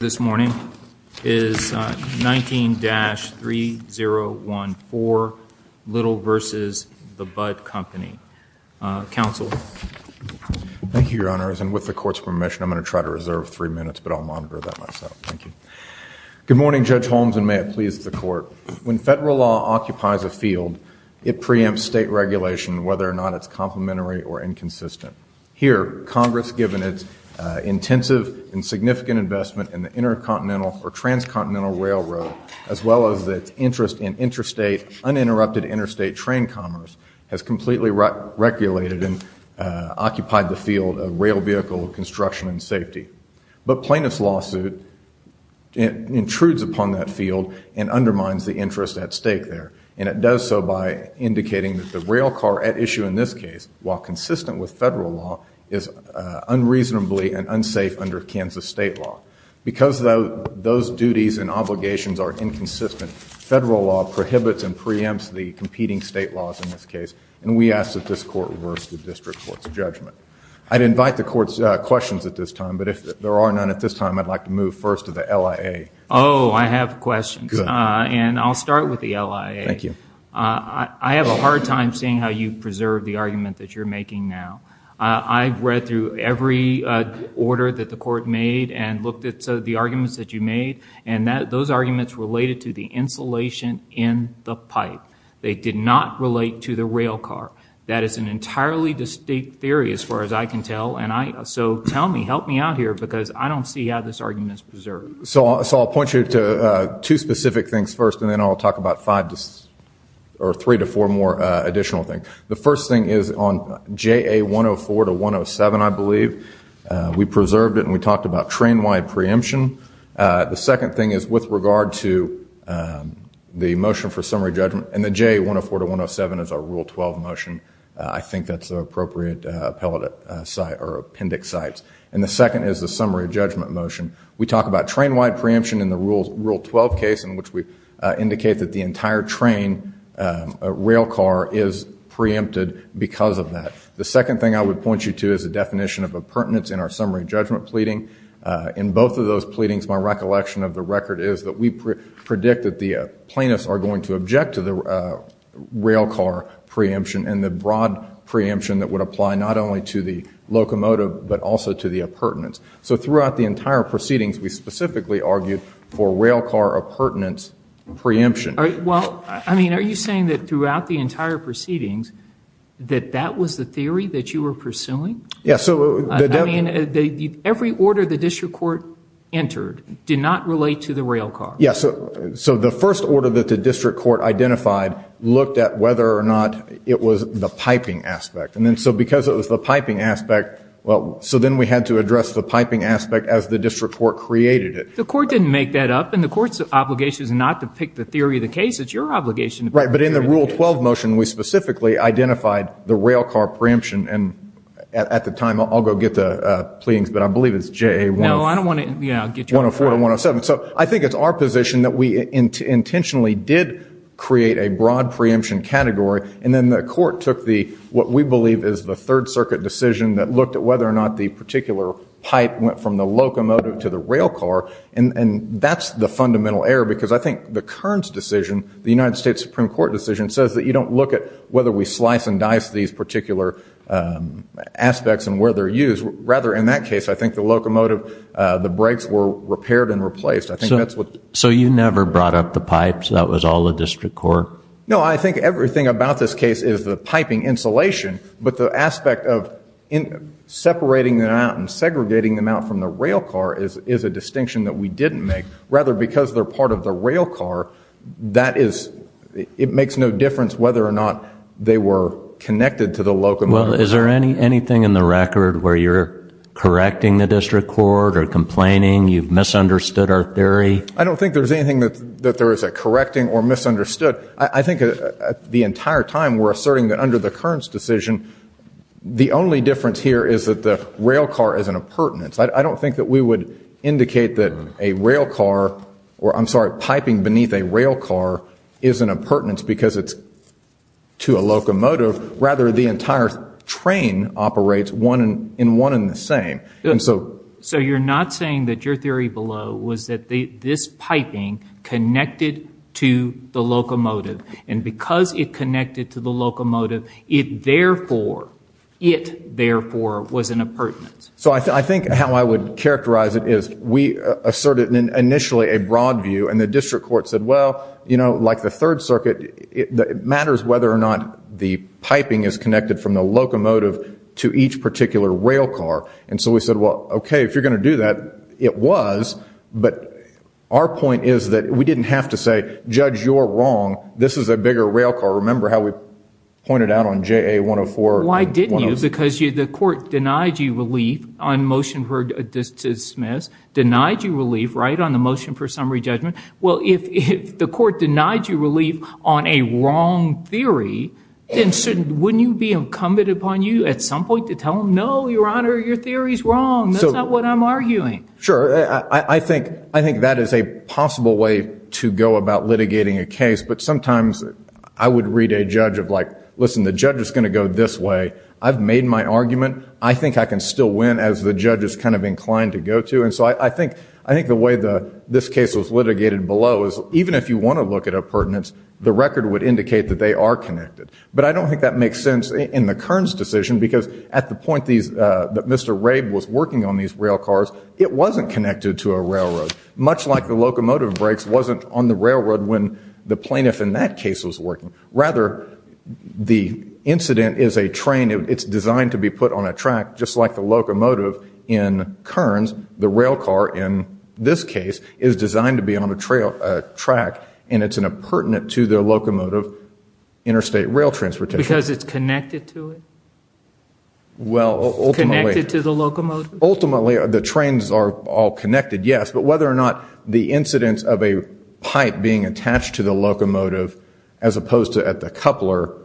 this morning is 19-3014 Little v. The Budd Company. Counsel. Thank you, your honors, and with the court's permission I'm going to try to reserve three minutes, but I'll monitor that myself. Thank you. Good morning, Judge Holmes, and may it please the court. When federal law occupies a field, it preempts state regulation whether or not it's complementary or inconsistent. Here, Congress, given its intensive and significant investment in the intercontinental or transcontinental railroad, as well as its interest in interstate uninterrupted interstate train commerce, has completely regulated and occupied the field of rail vehicle construction and safety. But plaintiff's lawsuit intrudes upon that field and undermines the interest at stake there, and it does so by indicating that the rail car at issue in this case, while consistent with federal law, is unreasonably and unsafe under Kansas state law. Because those duties and obligations are inconsistent, federal law prohibits and preempts the competing state laws in this case, and we ask that this court reverse the district court's judgment. I'd invite the court's questions at this time, but if there are none at this time, I'd like to move first to the LIA. Oh, I have questions, and I'll start with the LIA. Thank you. I have a I've read through every order that the court made and looked at the arguments that you made, and that those arguments related to the insulation in the pipe. They did not relate to the rail car. That is an entirely distinct theory as far as I can tell, and so tell me, help me out here, because I don't see how this argument is preserved. So I'll point you to two specific things first, and then I'll talk about five or three to four more additional things. The first thing is on JA 104 to 107, I believe. We preserved it, and we talked about train wide preemption. The second thing is with regard to the motion for summary judgment, and the JA 104 to 107 is our Rule 12 motion. I think that's the appropriate appellate site or appendix sites. And the second is the summary judgment motion. We talk about train wide preemption in the Rule 12 case, in which we indicate that the entire train rail car is preempted because of that. The second thing I would point you to is a definition of appurtenance in our summary judgment pleading. In both of those pleadings, my recollection of the record is that we predict that the plaintiffs are going to object to the rail car preemption, and the broad preemption that would apply not only to the locomotive, but also to the appurtenance. So throughout the entire proceedings, that that was the theory that you were pursuing? Yes. So every order the district court entered did not relate to the rail car? Yes. So the first order that the district court identified looked at whether or not it was the piping aspect. And then so because it was the piping aspect, well, so then we had to address the piping aspect as the district court created it. The court's obligation is not to pick the theory of the case. It's your obligation. Right, but in the Rule 12 motion, we specifically identified the rail car preemption. And at the time, I'll go get the pleadings, but I believe it's JA 104-107. So I think it's our position that we intentionally did create a broad preemption category, and then the court took what we believe is the Third Circuit decision that looked at whether or not the particular pipe went from the error because I think the Kearns decision, the United States Supreme Court decision, says that you don't look at whether we slice and dice these particular aspects and where they're used. Rather, in that case, I think the locomotive, the brakes were repaired and replaced. I think that's what. So you never brought up the pipes? That was all the district court? No, I think everything about this case is the piping insulation, but the aspect of separating them out and segregating them out from the rail car is a distinction that we make. Because they're part of the rail car, that is, it makes no difference whether or not they were connected to the locomotive. Well, is there anything in the record where you're correcting the district court or complaining you've misunderstood our theory? I don't think there's anything that there is a correcting or misunderstood. I think the entire time, we're asserting that under the Kearns decision, the only difference here is that the rail car is an impertinence. I don't think that we would indicate that a rail car, or I'm sorry, piping beneath a rail car is an impertinence because it's to a locomotive. Rather, the entire train operates in one and the same. So you're not saying that your theory below was that this piping connected to the locomotive and because it connected to the locomotive, it therefore, it therefore, was an impertinence. So I think how I would characterize it is we asserted initially a broad view and the district court said, well, you know, like the Third Circuit, it matters whether or not the piping is connected from the locomotive to each particular rail car. And so we said, well, okay, if you're going to do that, it was. But our point is that we didn't have to say, judge, you're wrong. This is a bigger rail car. Remember how we pointed out on JA 104? Why didn't you? Because the court denied you relief on motion for dismiss, denied you relief, right, on the motion for summary judgment. Well, if the court denied you relief on a wrong theory, then shouldn't, wouldn't you be incumbent upon you at some point to tell them, no, your honor, your theory is wrong. That's not what I'm arguing. Sure. I think, I think that is a possible way to go about litigating a case, but sometimes I would read a judge of like, listen, the judge is going to go this way. I've made my argument. I think I can still win as the judge is kind of inclined to go to. And so I think, I think the way the, this case was litigated below is even if you want to look at a pertinence, the record would indicate that they are connected. But I don't think that makes sense in the Kearns decision because at the point these, that Mr. Rabe was working on these rail cars, it wasn't connected to a railroad. Much like the locomotive brakes wasn't on the railroad when the plaintiff in that case was working. Rather, the incident is a train. It's designed to be put on a track, just like the locomotive in Kearns, the rail car in this case, is designed to be on a trail, a track, and it's an appurtenant to the locomotive interstate rail transportation. Because it's connected to it? Well, ultimately. Connected to the locomotive? Ultimately, the trains are all connected, yes. But whether or not the incidence of a pipe being attached to the locomotive as opposed to at the coupler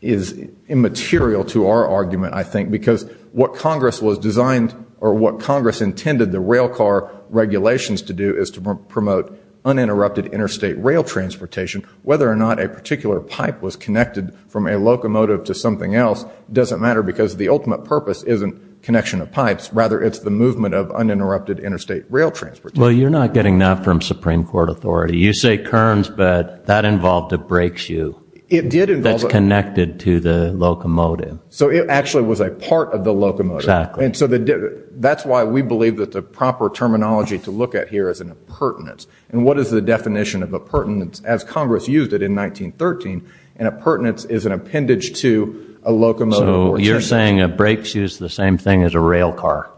is immaterial to our argument, I think, because what Congress was designed or what Congress intended the rail car regulations to do is to promote uninterrupted interstate rail transportation. Whether or not a particular pipe was connected from a locomotive to something else doesn't matter because the ultimate purpose isn't connection of pipes. Rather, it's the movement of uninterrupted interstate rail transportation. Well, you're not getting that from Supreme Court authority. You say Kearns, but that involved a brake shoe that's connected to the locomotive. So it actually was a part of the locomotive. Exactly. And so that's why we believe that the proper terminology to look at here is an appurtenance. And what is the definition of appurtenance? As Congress used it in 1913, an appurtenance is an appendage to a locomotive or train. So you're saying a brake shoe is the same thing as a rail car?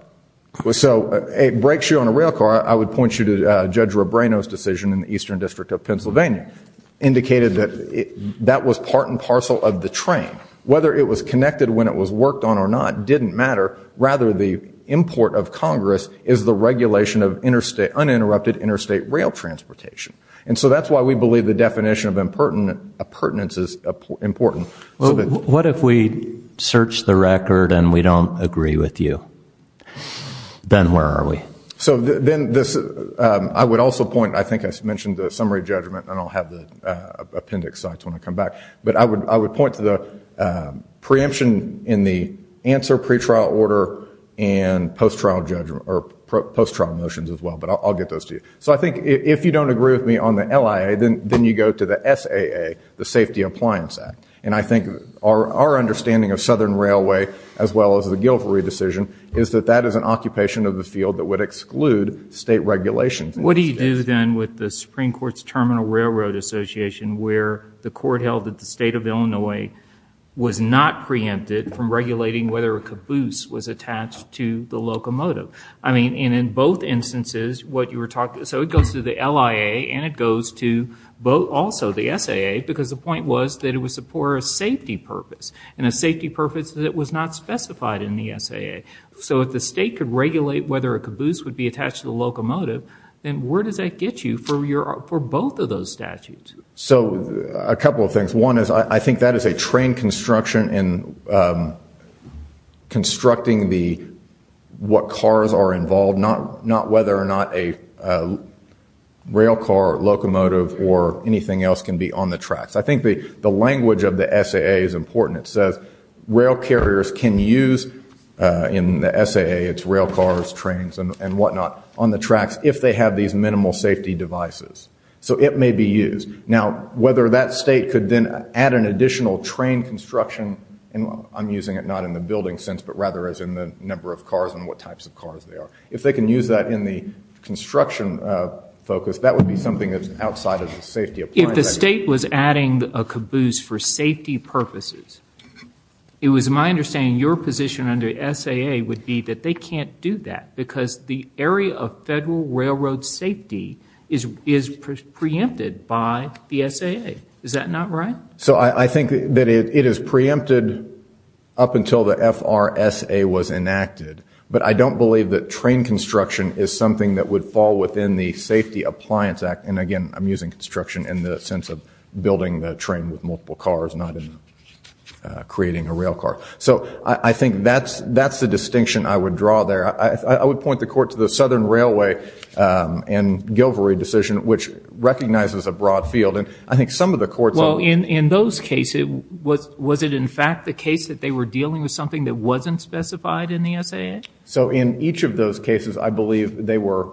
So a brake shoe on a rail car, I would point you to Judge Robreno's decision in the Eastern District of Pennsylvania, indicated that that was part and parcel of the train. Whether it was connected when it was worked on or not didn't matter. Rather, the import of Congress is the regulation of uninterrupted interstate rail transportation. And so that's why we believe the definition of appurtenance is important. What if we search the record and we don't agree with you? Then where are we? So I would also point, I think I mentioned the summary judgment, and I'll have the appendix when I come back. But I would point to the preemption in the answer pretrial order and post-trial motions as well. But I'll get those to you. So I think if you don't agree with me on the LIA, then you go to the SAA, the Safety Appliance Act. And I think our understanding of Southern Railway, as well as the Guilfrey decision, is that that is an occupation of the field that would exclude state regulations. What do you do then with the Supreme Court's Terminal Railroad Association, where the court held that the state of Illinois was not preempted from regulating whether a caboose was attached to the locomotive? I mean, and in both instances, what you were talking, so it goes to the point was that it was for a safety purpose, and a safety purpose that was not specified in the SAA. So if the state could regulate whether a caboose would be attached to the locomotive, then where does that get you for both of those statutes? So a couple of things. One is I think that is a train construction in constructing what cars are involved, not whether or not a rail car, locomotive, or anything else can be on the tracks. I think the language of the SAA is important. It says rail carriers can use, in the SAA it's rail cars, trains, and whatnot, on the tracks if they have these minimal safety devices. So it may be used. Now, whether that state could then add an additional train construction, and I'm using it not in the building sense, but rather as in the number of cars and what types of cars they are, if they can use that in the construction focus, that would be something that's outside of the safety. If the state was adding a caboose for safety purposes, it was my understanding your position under SAA would be that they can't do that because the area of federal railroad safety is preempted by the SAA. Is that not right? So I think that it is preempted up until the FRSA was enacted, but I don't believe that train construction is something that would fall within the Safety Appliance Act, and again, I'm using construction in the sense of building the train with multiple cars, not in creating a rail car. So I think that's the distinction I would draw there. I would point the court to the Southern Railway and Gilvory decision, which recognizes a broad field, and I think some of the courts... Well, in those cases, was it in fact the case that they were dealing with something that wasn't specified in the SAA? So in each of those cases, I believe they were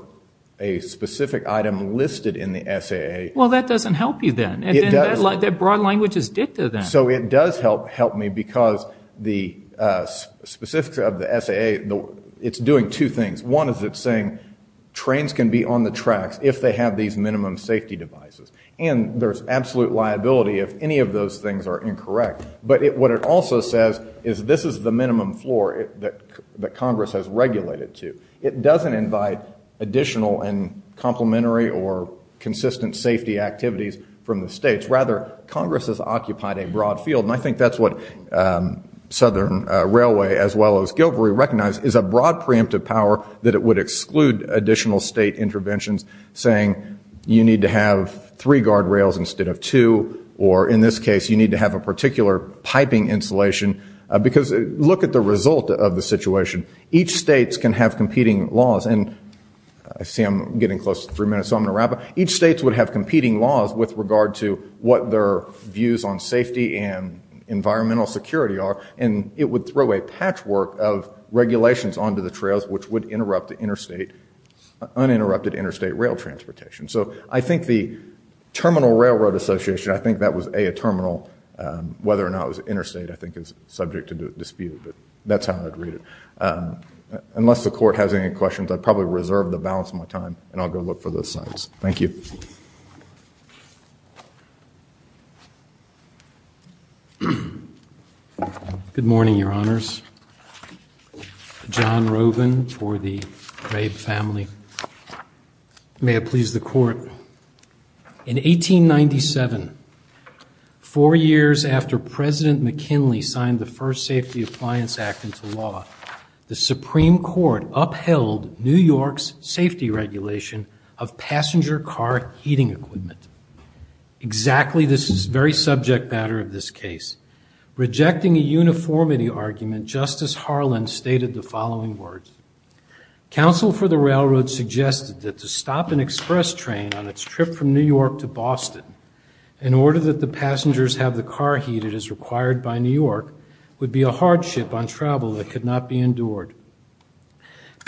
a specific item listed in the SAA. Well, that doesn't help you then. That broad language is dicta then. So it does help me because the specifics of the SAA, it's doing two things. One is it's saying trains can be on the tracks if they have these minimum safety devices, and there's absolute liability if any of those things are incorrect, but what it also says is this is the minimum floor that Congress has regulated to. It doesn't invite additional and complementary or consistent safety activities from the states. Rather, Congress has occupied a broad field, and I think that's what Southern Railway, as well as Gilvory, recognize is a broad preemptive power that it would exclude additional state interventions, saying you need to have three guardrails instead of two, or in this case, you need to have a particular piping insulation, because look at the result of the competing laws, and I see I'm getting close to three minutes, so I'm going to wrap up. Each state would have competing laws with regard to what their views on safety and environmental security are, and it would throw a patchwork of regulations onto the trails which would interrupt the uninterrupted interstate rail transportation. So I think the Terminal Railroad Association, I think that was a terminal, whether or not it was interstate I think is subject to dispute, but that's how I'd read it. Unless the court has any questions, I'd probably reserve the balance of my time, and I'll go look for those signs. Thank you. Good morning, Your Honors. John Roven for the Raib family. May it please the court, in 1897, four years after President McKinley signed the first Safety Appliance Act into law, the Supreme Court upheld New York's safety regulation of passenger car heating equipment. Exactly this is very subject matter of this case. Rejecting a uniformity argument, Justice Harlan stated the following words, Council for the Railroad suggested that to stop an express train on its trip from New York to Boston, in order that the passengers have the car heated as required by New York, would be a hardship on travel that could not be endured.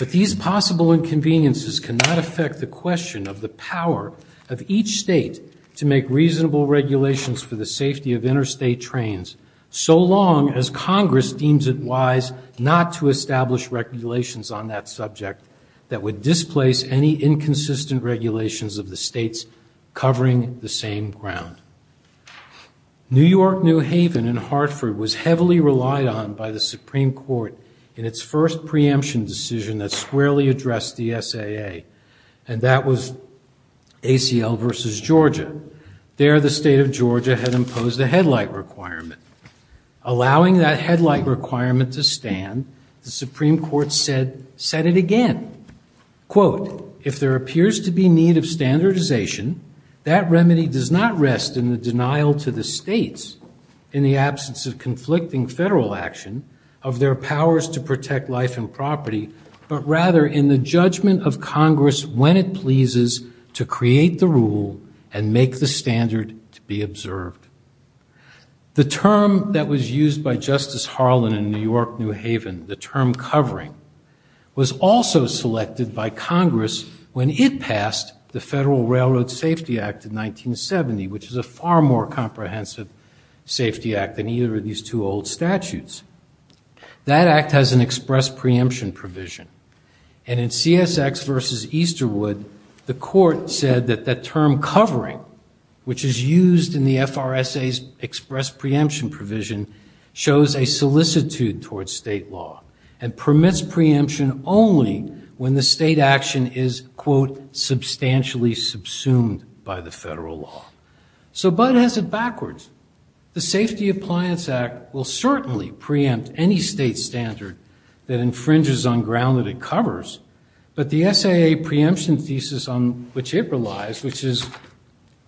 But these possible inconveniences cannot affect the question of the power of each state to make reasonable regulations for the safety of interstate trains, so long as Congress deems it wise not to establish regulations on that subject that would displace any inconsistent regulations of the states covering the same ground. New York, New Haven, and Hartford was heavily relied on by the Supreme Court in its first preemption decision that squarely addressed the SAA, and that was ACL versus Georgia. There, the state of Georgia had imposed a headlight requirement to stand, the Supreme Court said, said it again, quote, if there appears to be need of standardization, that remedy does not rest in the denial to the states, in the absence of conflicting federal action, of their powers to protect life and property, but rather in the judgment of Congress when it pleases to create the rule and make the standard to be The term covering was also selected by Congress when it passed the Federal Railroad Safety Act in 1970, which is a far more comprehensive safety act than either of these two old statutes. That act has an express preemption provision, and in CSX versus Easterwood, the court said that that term covering, which is a solicitude towards state law, and permits preemption only when the state action is, quote, substantially subsumed by the federal law. So Bud has it backwards. The Safety Appliance Act will certainly preempt any state standard that infringes on ground that it covers, but the SAA preemption thesis on which it relies, which is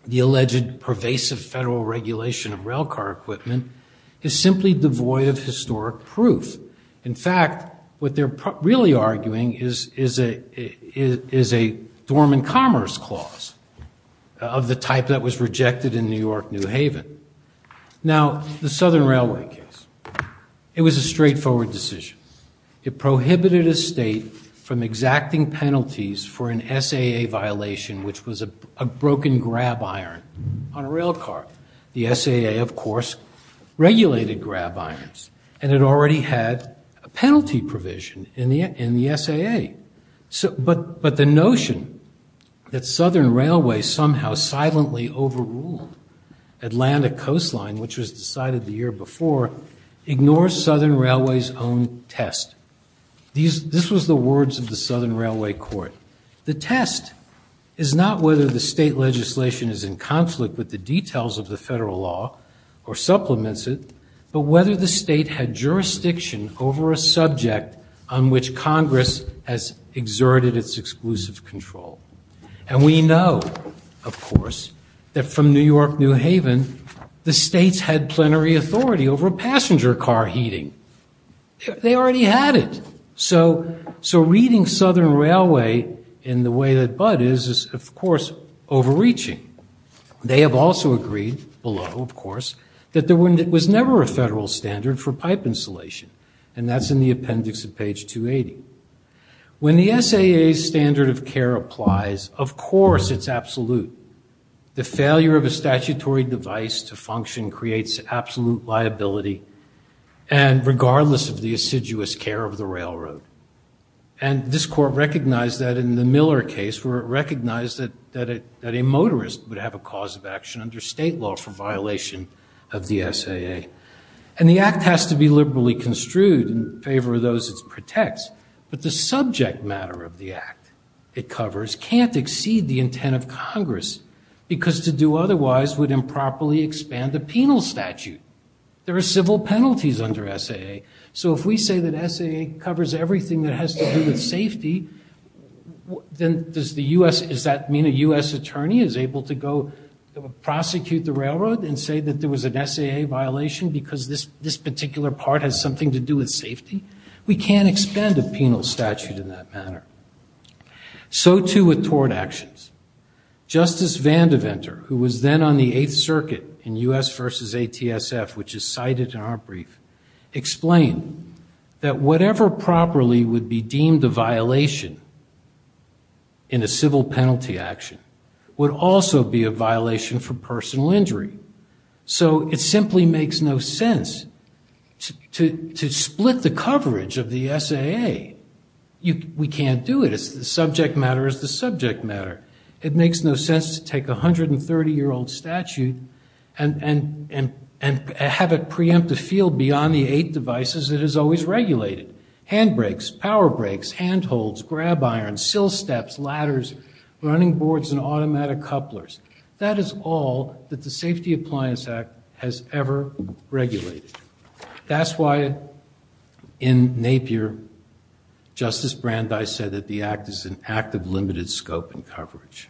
the alleged pervasive federal regulation of rail car equipment, is simply devoid of historic proof. In fact, what they're really arguing is a dormant commerce clause of the type that was rejected in New York New Haven. Now, the Southern Railway case, it was a straightforward decision. It prohibited a state from exacting penalties for an SAA violation, which was a broken grab iron on a rail car. The SAA, of course, regulated grab irons, and it already had a penalty provision in the SAA. But the notion that Southern Railway somehow silently overruled Atlanta Coastline, which was decided the year before, ignores Southern Railway's own test. This was the words of the Southern Railway court. The test is not whether the state legislation is in conflict with the details of the federal law or supplements it, but whether the state had jurisdiction over a subject on which Congress has exerted its exclusive control. And we know, of course, that from New York New Haven, the states had plenary authority over passenger car heating. They already had it. So reading Southern Railway in the way that Bud is, is of course overreaching. They have also agreed, below of course, that there was never a federal standard for pipe insulation, and that's in the appendix of page 280. When the SAA's standard of care applies, of course it's absolute. The failure of a statutory device to function creates absolute liability, and regardless of the assiduous care of the railroad. And this court recognized that in the Miller case, recognized that a motorist would have a cause of action under state law for violation of the SAA. And the act has to be liberally construed in favor of those it protects, but the subject matter of the act it covers can't exceed the intent of Congress, because to do otherwise would improperly expand the penal statute. There are civil penalties under SAA. So if we say that SAA covers everything that has to do with safety, then does the U.S., does that mean a U.S. attorney is able to go prosecute the railroad and say that there was an SAA violation because this this particular part has something to do with safety? We can't expend a penal statute in that manner. So too with tort actions. Justice Van Deventer, who was then on the Eighth Circuit in U.S. versus ATSF, which is improperly would be deemed a violation in a civil penalty action, would also be a violation for personal injury. So it simply makes no sense to split the coverage of the SAA. We can't do it. The subject matter is the subject matter. It makes no sense to take a 130-year-old statute and have it handbrakes, power brakes, handholds, grab irons, sill steps, ladders, running boards, and automatic couplers. That is all that the Safety Appliance Act has ever regulated. That's why in Napier, Justice Brandeis said that the act is an act of limited scope and coverage.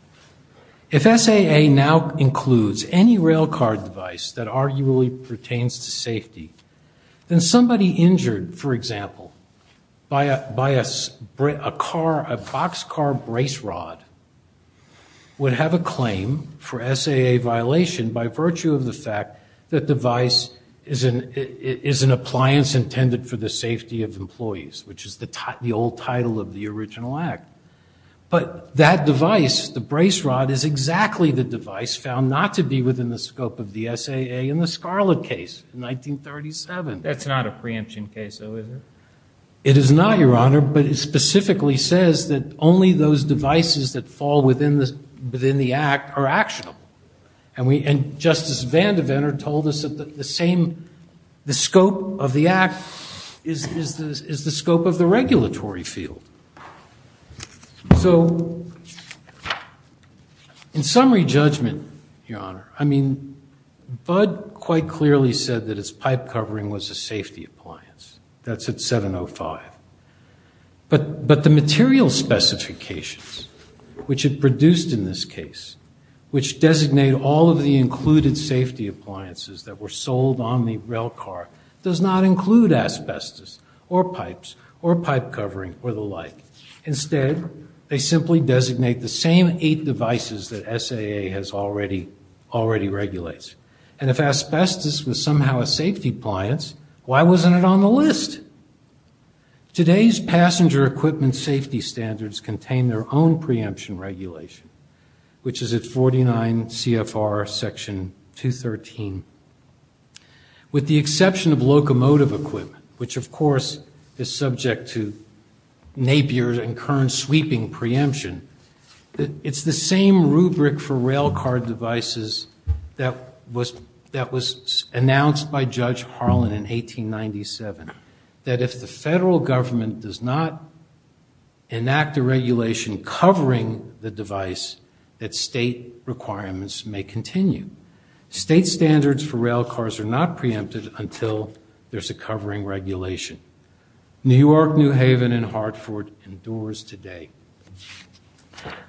If SAA now includes any rail card device that arguably pertains to safety, then somebody injured, for example, by a boxcar brace rod would have a claim for SAA violation by virtue of the fact that device is an appliance intended for the safety of employees, which is the old title of the original act. But that device, the brace rod, is exactly the device found not to be within the scope of the SAA in the Scarlett case in 1937. That's not a preemption case, though, is it? It is not, Your Honor, but it specifically says that only those devices that fall within the act are actionable. And Justice Vandeventer told us that the scope of the act is the scope of the regulatory field. So in quite clearly said that its pipe covering was a safety appliance. That's at 705. But the material specifications, which it produced in this case, which designate all of the included safety appliances that were sold on the rail car, does not include asbestos or pipes or pipe covering or the like. Instead, they simply designate the same eight devices that SAA has already regulates. And if asbestos was somehow a safety appliance, why wasn't it on the list? Today's passenger equipment safety standards contain their own preemption regulation, which is at 49 CFR section 213. With the exception of locomotive equipment, which of course is subject to Napier and Kern sweeping preemption, it's the same rubric for rail car devices that was announced by Judge Harlan in 1897, that if the federal government does not enact a regulation covering the device, that state requirements may continue. State standards for rail cars are not preempted until there's a covering regulation. New York, New Haven, and Hartford endures today.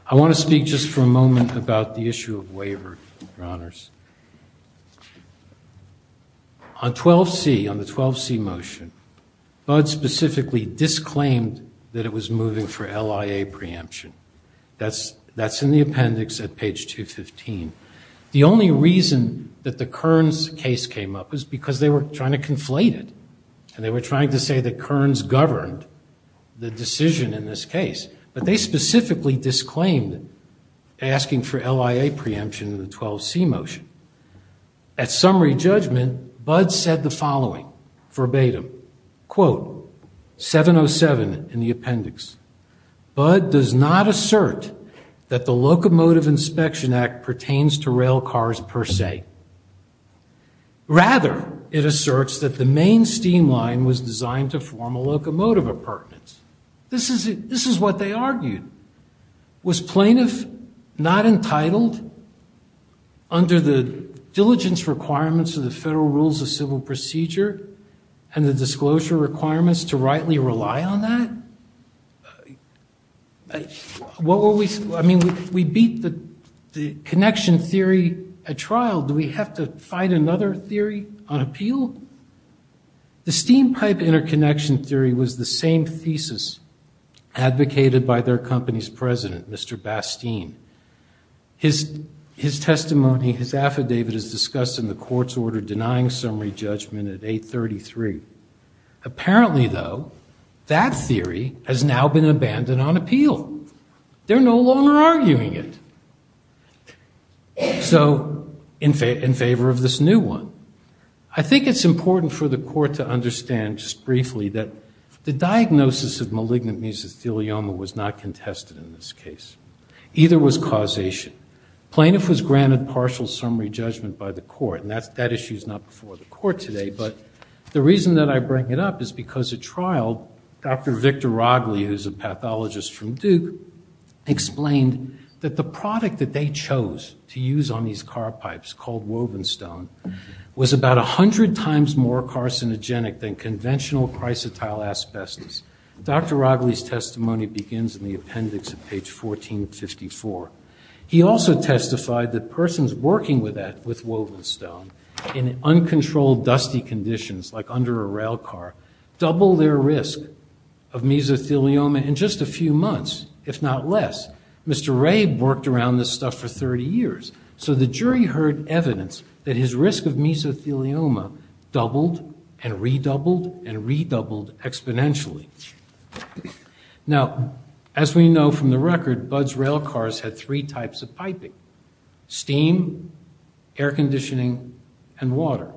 I want to speak just for a moment about the issue of waiver, Your Honors. On 12C, on the 12C motion, Bud specifically disclaimed that it was moving for LIA preemption. That's in the appendix at page 215. The only reason that the Kerns case came up was because they were trying to conflate it, and they were trying to say that Kerns governed the decision in this case. But they specifically disclaimed asking for LIA preemption in the 12C motion. At summary judgment, Bud said the following, verbatim, quote, 707 in the appendix, Bud does not assert that the rather, it asserts that the main steam line was designed to form a locomotive appurtenance. This is what they argued. Was plaintiff not entitled under the diligence requirements of the federal rules of civil procedure and the disclosure requirements to rightly rely on that? What were we, I mean, we beat the connection theory at trial. Do we have to fight another theory on appeal? The steam pipe interconnection theory was the same thesis advocated by their company's president, Mr. Bastien. His testimony, his affidavit is discussed in the court's order denying summary judgment at 833. Apparently, though, that is an abandon on appeal. They're no longer arguing it. So, in favor of this new one. I think it's important for the court to understand just briefly that the diagnosis of malignant mesothelioma was not contested in this case. Either was causation. Plaintiff was granted partial summary judgment by the court, and that's that issue is not before the court today, but the reason that I bring it up is because at trial, Dr. Victor Rogli, who's a pathologist from Duke, explained that the product that they chose to use on these car pipes, called woven stone, was about a hundred times more carcinogenic than conventional chrysotile asbestos. Dr. Rogli's testimony begins in the appendix at page 1454. He also testified that persons working with that, with woven stone, in uncontrolled dusty conditions like under a rail car, double their risk of mesothelioma in just a few months, if not less. Mr. Ray worked around this stuff for 30 years, so the jury heard evidence that his risk of mesothelioma doubled and redoubled and redoubled exponentially. Now, as we know from the record, Bud's rail cars had three types of piping. Steam, air conditioning, and water.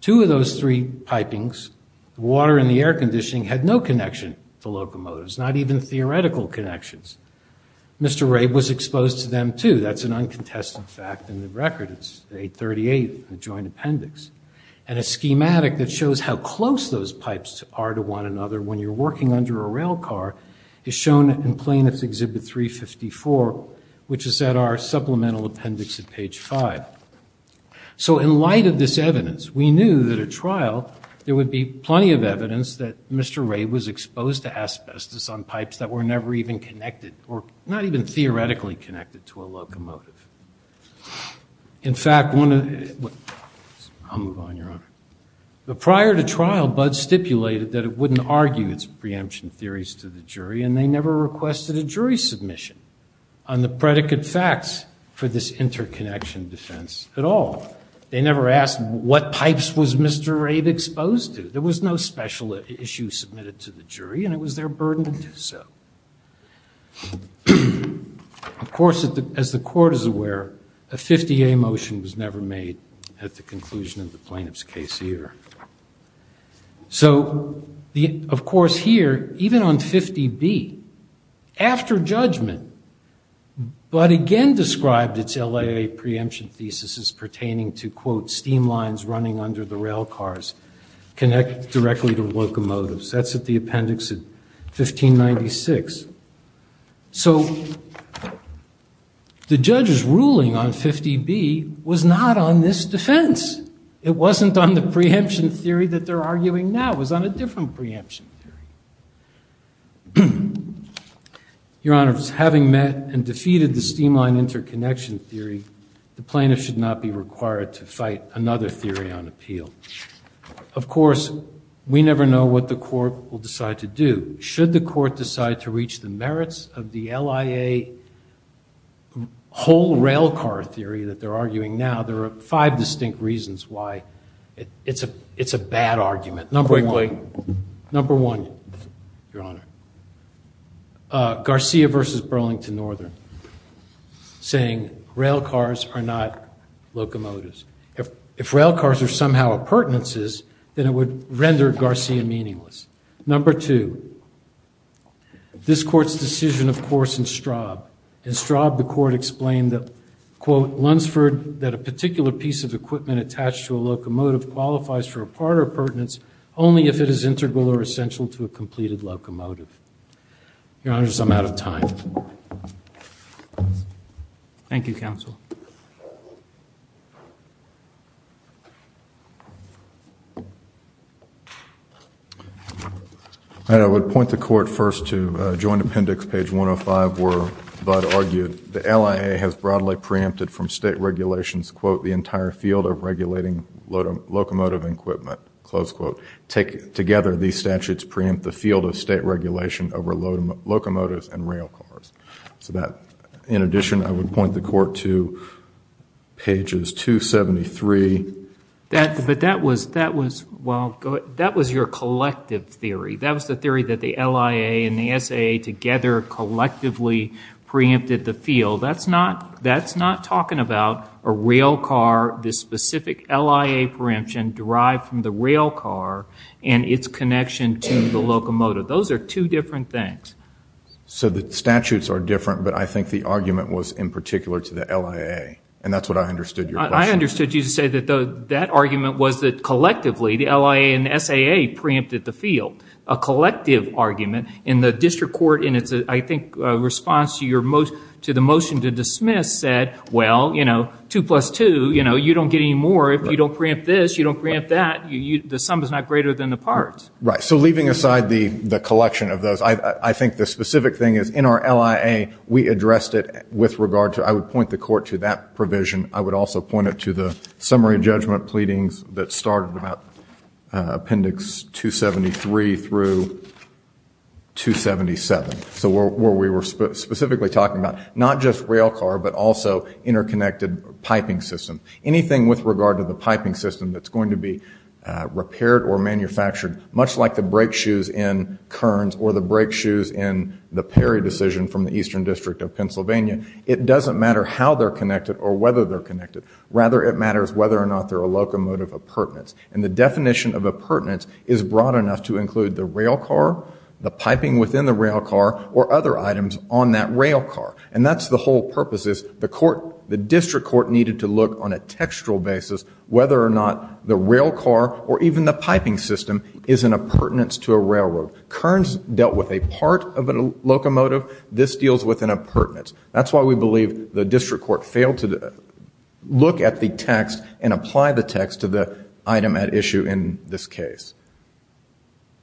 Two of those three pipings, water and the air conditioning, had no connection to locomotives, not even theoretical connections. Mr. Ray was exposed to them, too. That's an uncontested fact in the record. It's 838, the joint appendix. And a schematic that shows how close those pipes are to one another when you're working under a rail car is shown in Plaintiff's Exhibit 354, which is at our supplemental appendix at page 5. So in light of this evidence, we knew that a trial, there would be plenty of evidence that Mr. Ray was exposed to asbestos on pipes that were never even connected, or not even theoretically connected to a locomotive. In fact, one of the... I'll move on, Your Honor. But prior to trial, Bud stipulated that it was their burden to do so. Of course, as the court is aware, a 50-A motion was never made at the conclusion of the plaintiff's case, either. So, of course, here, even on 50-A, 50-B, after judgment, Bud again described its LAA preemption thesis as pertaining to, quote, steam lines running under the rail cars connected directly to locomotives. That's at the appendix at 1596. So, the judge's ruling on 50-B was not on this defense. It wasn't on the preemption theory. Your Honor, having met and defeated the steam line interconnection theory, the plaintiff should not be required to fight another theory on appeal. Of course, we never know what the court will decide to do. Should the court decide to reach the merits of the LAA whole rail car theory that they're arguing now, there are five distinct reasons why it's a bad argument. Number one, Your Honor, Garcia versus Burlington Northern, saying rail cars are not locomotives. If rail cars are somehow appurtenances, then it would render Garcia meaningless. Number two, this court's decision, of course, in Straub. In Straub, the court explained that, quote, only if it is integral or essential to a completed locomotive. Your Honor, I'm out of time. Thank you, counsel. I would point the court first to joint appendix, page 105, where Budd argued the LAA has broadly preempted from state regulations, quote, the entire field of regulating locomotive equipment, close quote. Together, these statutes preempt the field of state regulation over locomotives and rail cars. In addition, I would point the court to pages 273. But that was your collective theory. That was the theory that the LAA and the SAA together collectively preempted the field. That's not talking about a rail car, the specific LAA preemption derived from the rail car and its connection to the locomotive. Those are two different things. So the statutes are different, but I think the argument was in particular to the LAA. And that's what I understood your question. I understood you to say that that argument was that collectively the LAA and SAA preempted the field, a collective argument. And the district court in its, I think, response to the motion to dismiss said, well, you know, two plus two, you know, you don't get any more if you don't preempt this, you don't preempt that. The sum is not greater than the parts. Right. So leaving aside the collection of those, I think the specific thing is in our LAA, we addressed it with regard to, I would point the court to that provision. I would also point it to the summary judgment pleadings that started about Appendix 273 through 277. So where we were specifically talking about not just rail car, but also interconnected piping system. Anything with regard to the piping system that's going to be repaired or manufactured, much like the brake shoes in Kearns or the brake shoes in the Perry decision from the Eastern District of Pennsylvania, it doesn't matter how they're connected or whether they're connected. Rather, it matters whether or not they're a locomotive appurtenance. And the definition of appurtenance is broad enough to include the rail car, the piping within the rail car, or other items on that rail car. And that's the whole purpose is the court, the district court needed to look on a textual basis whether or not the rail car or even the piping system is an appurtenance to a railroad. Kearns dealt with a part of a locomotive. This deals with an appurtenance. That's why we believe the district court failed to look at the text and apply the text to the item at issue in this case.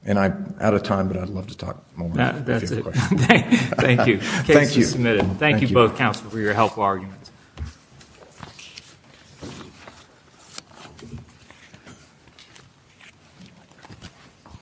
And I'm out of time, but I'd love to talk more. That's it. Thank you. Case is submitted. Thank you both, counsel, for your helpful arguments.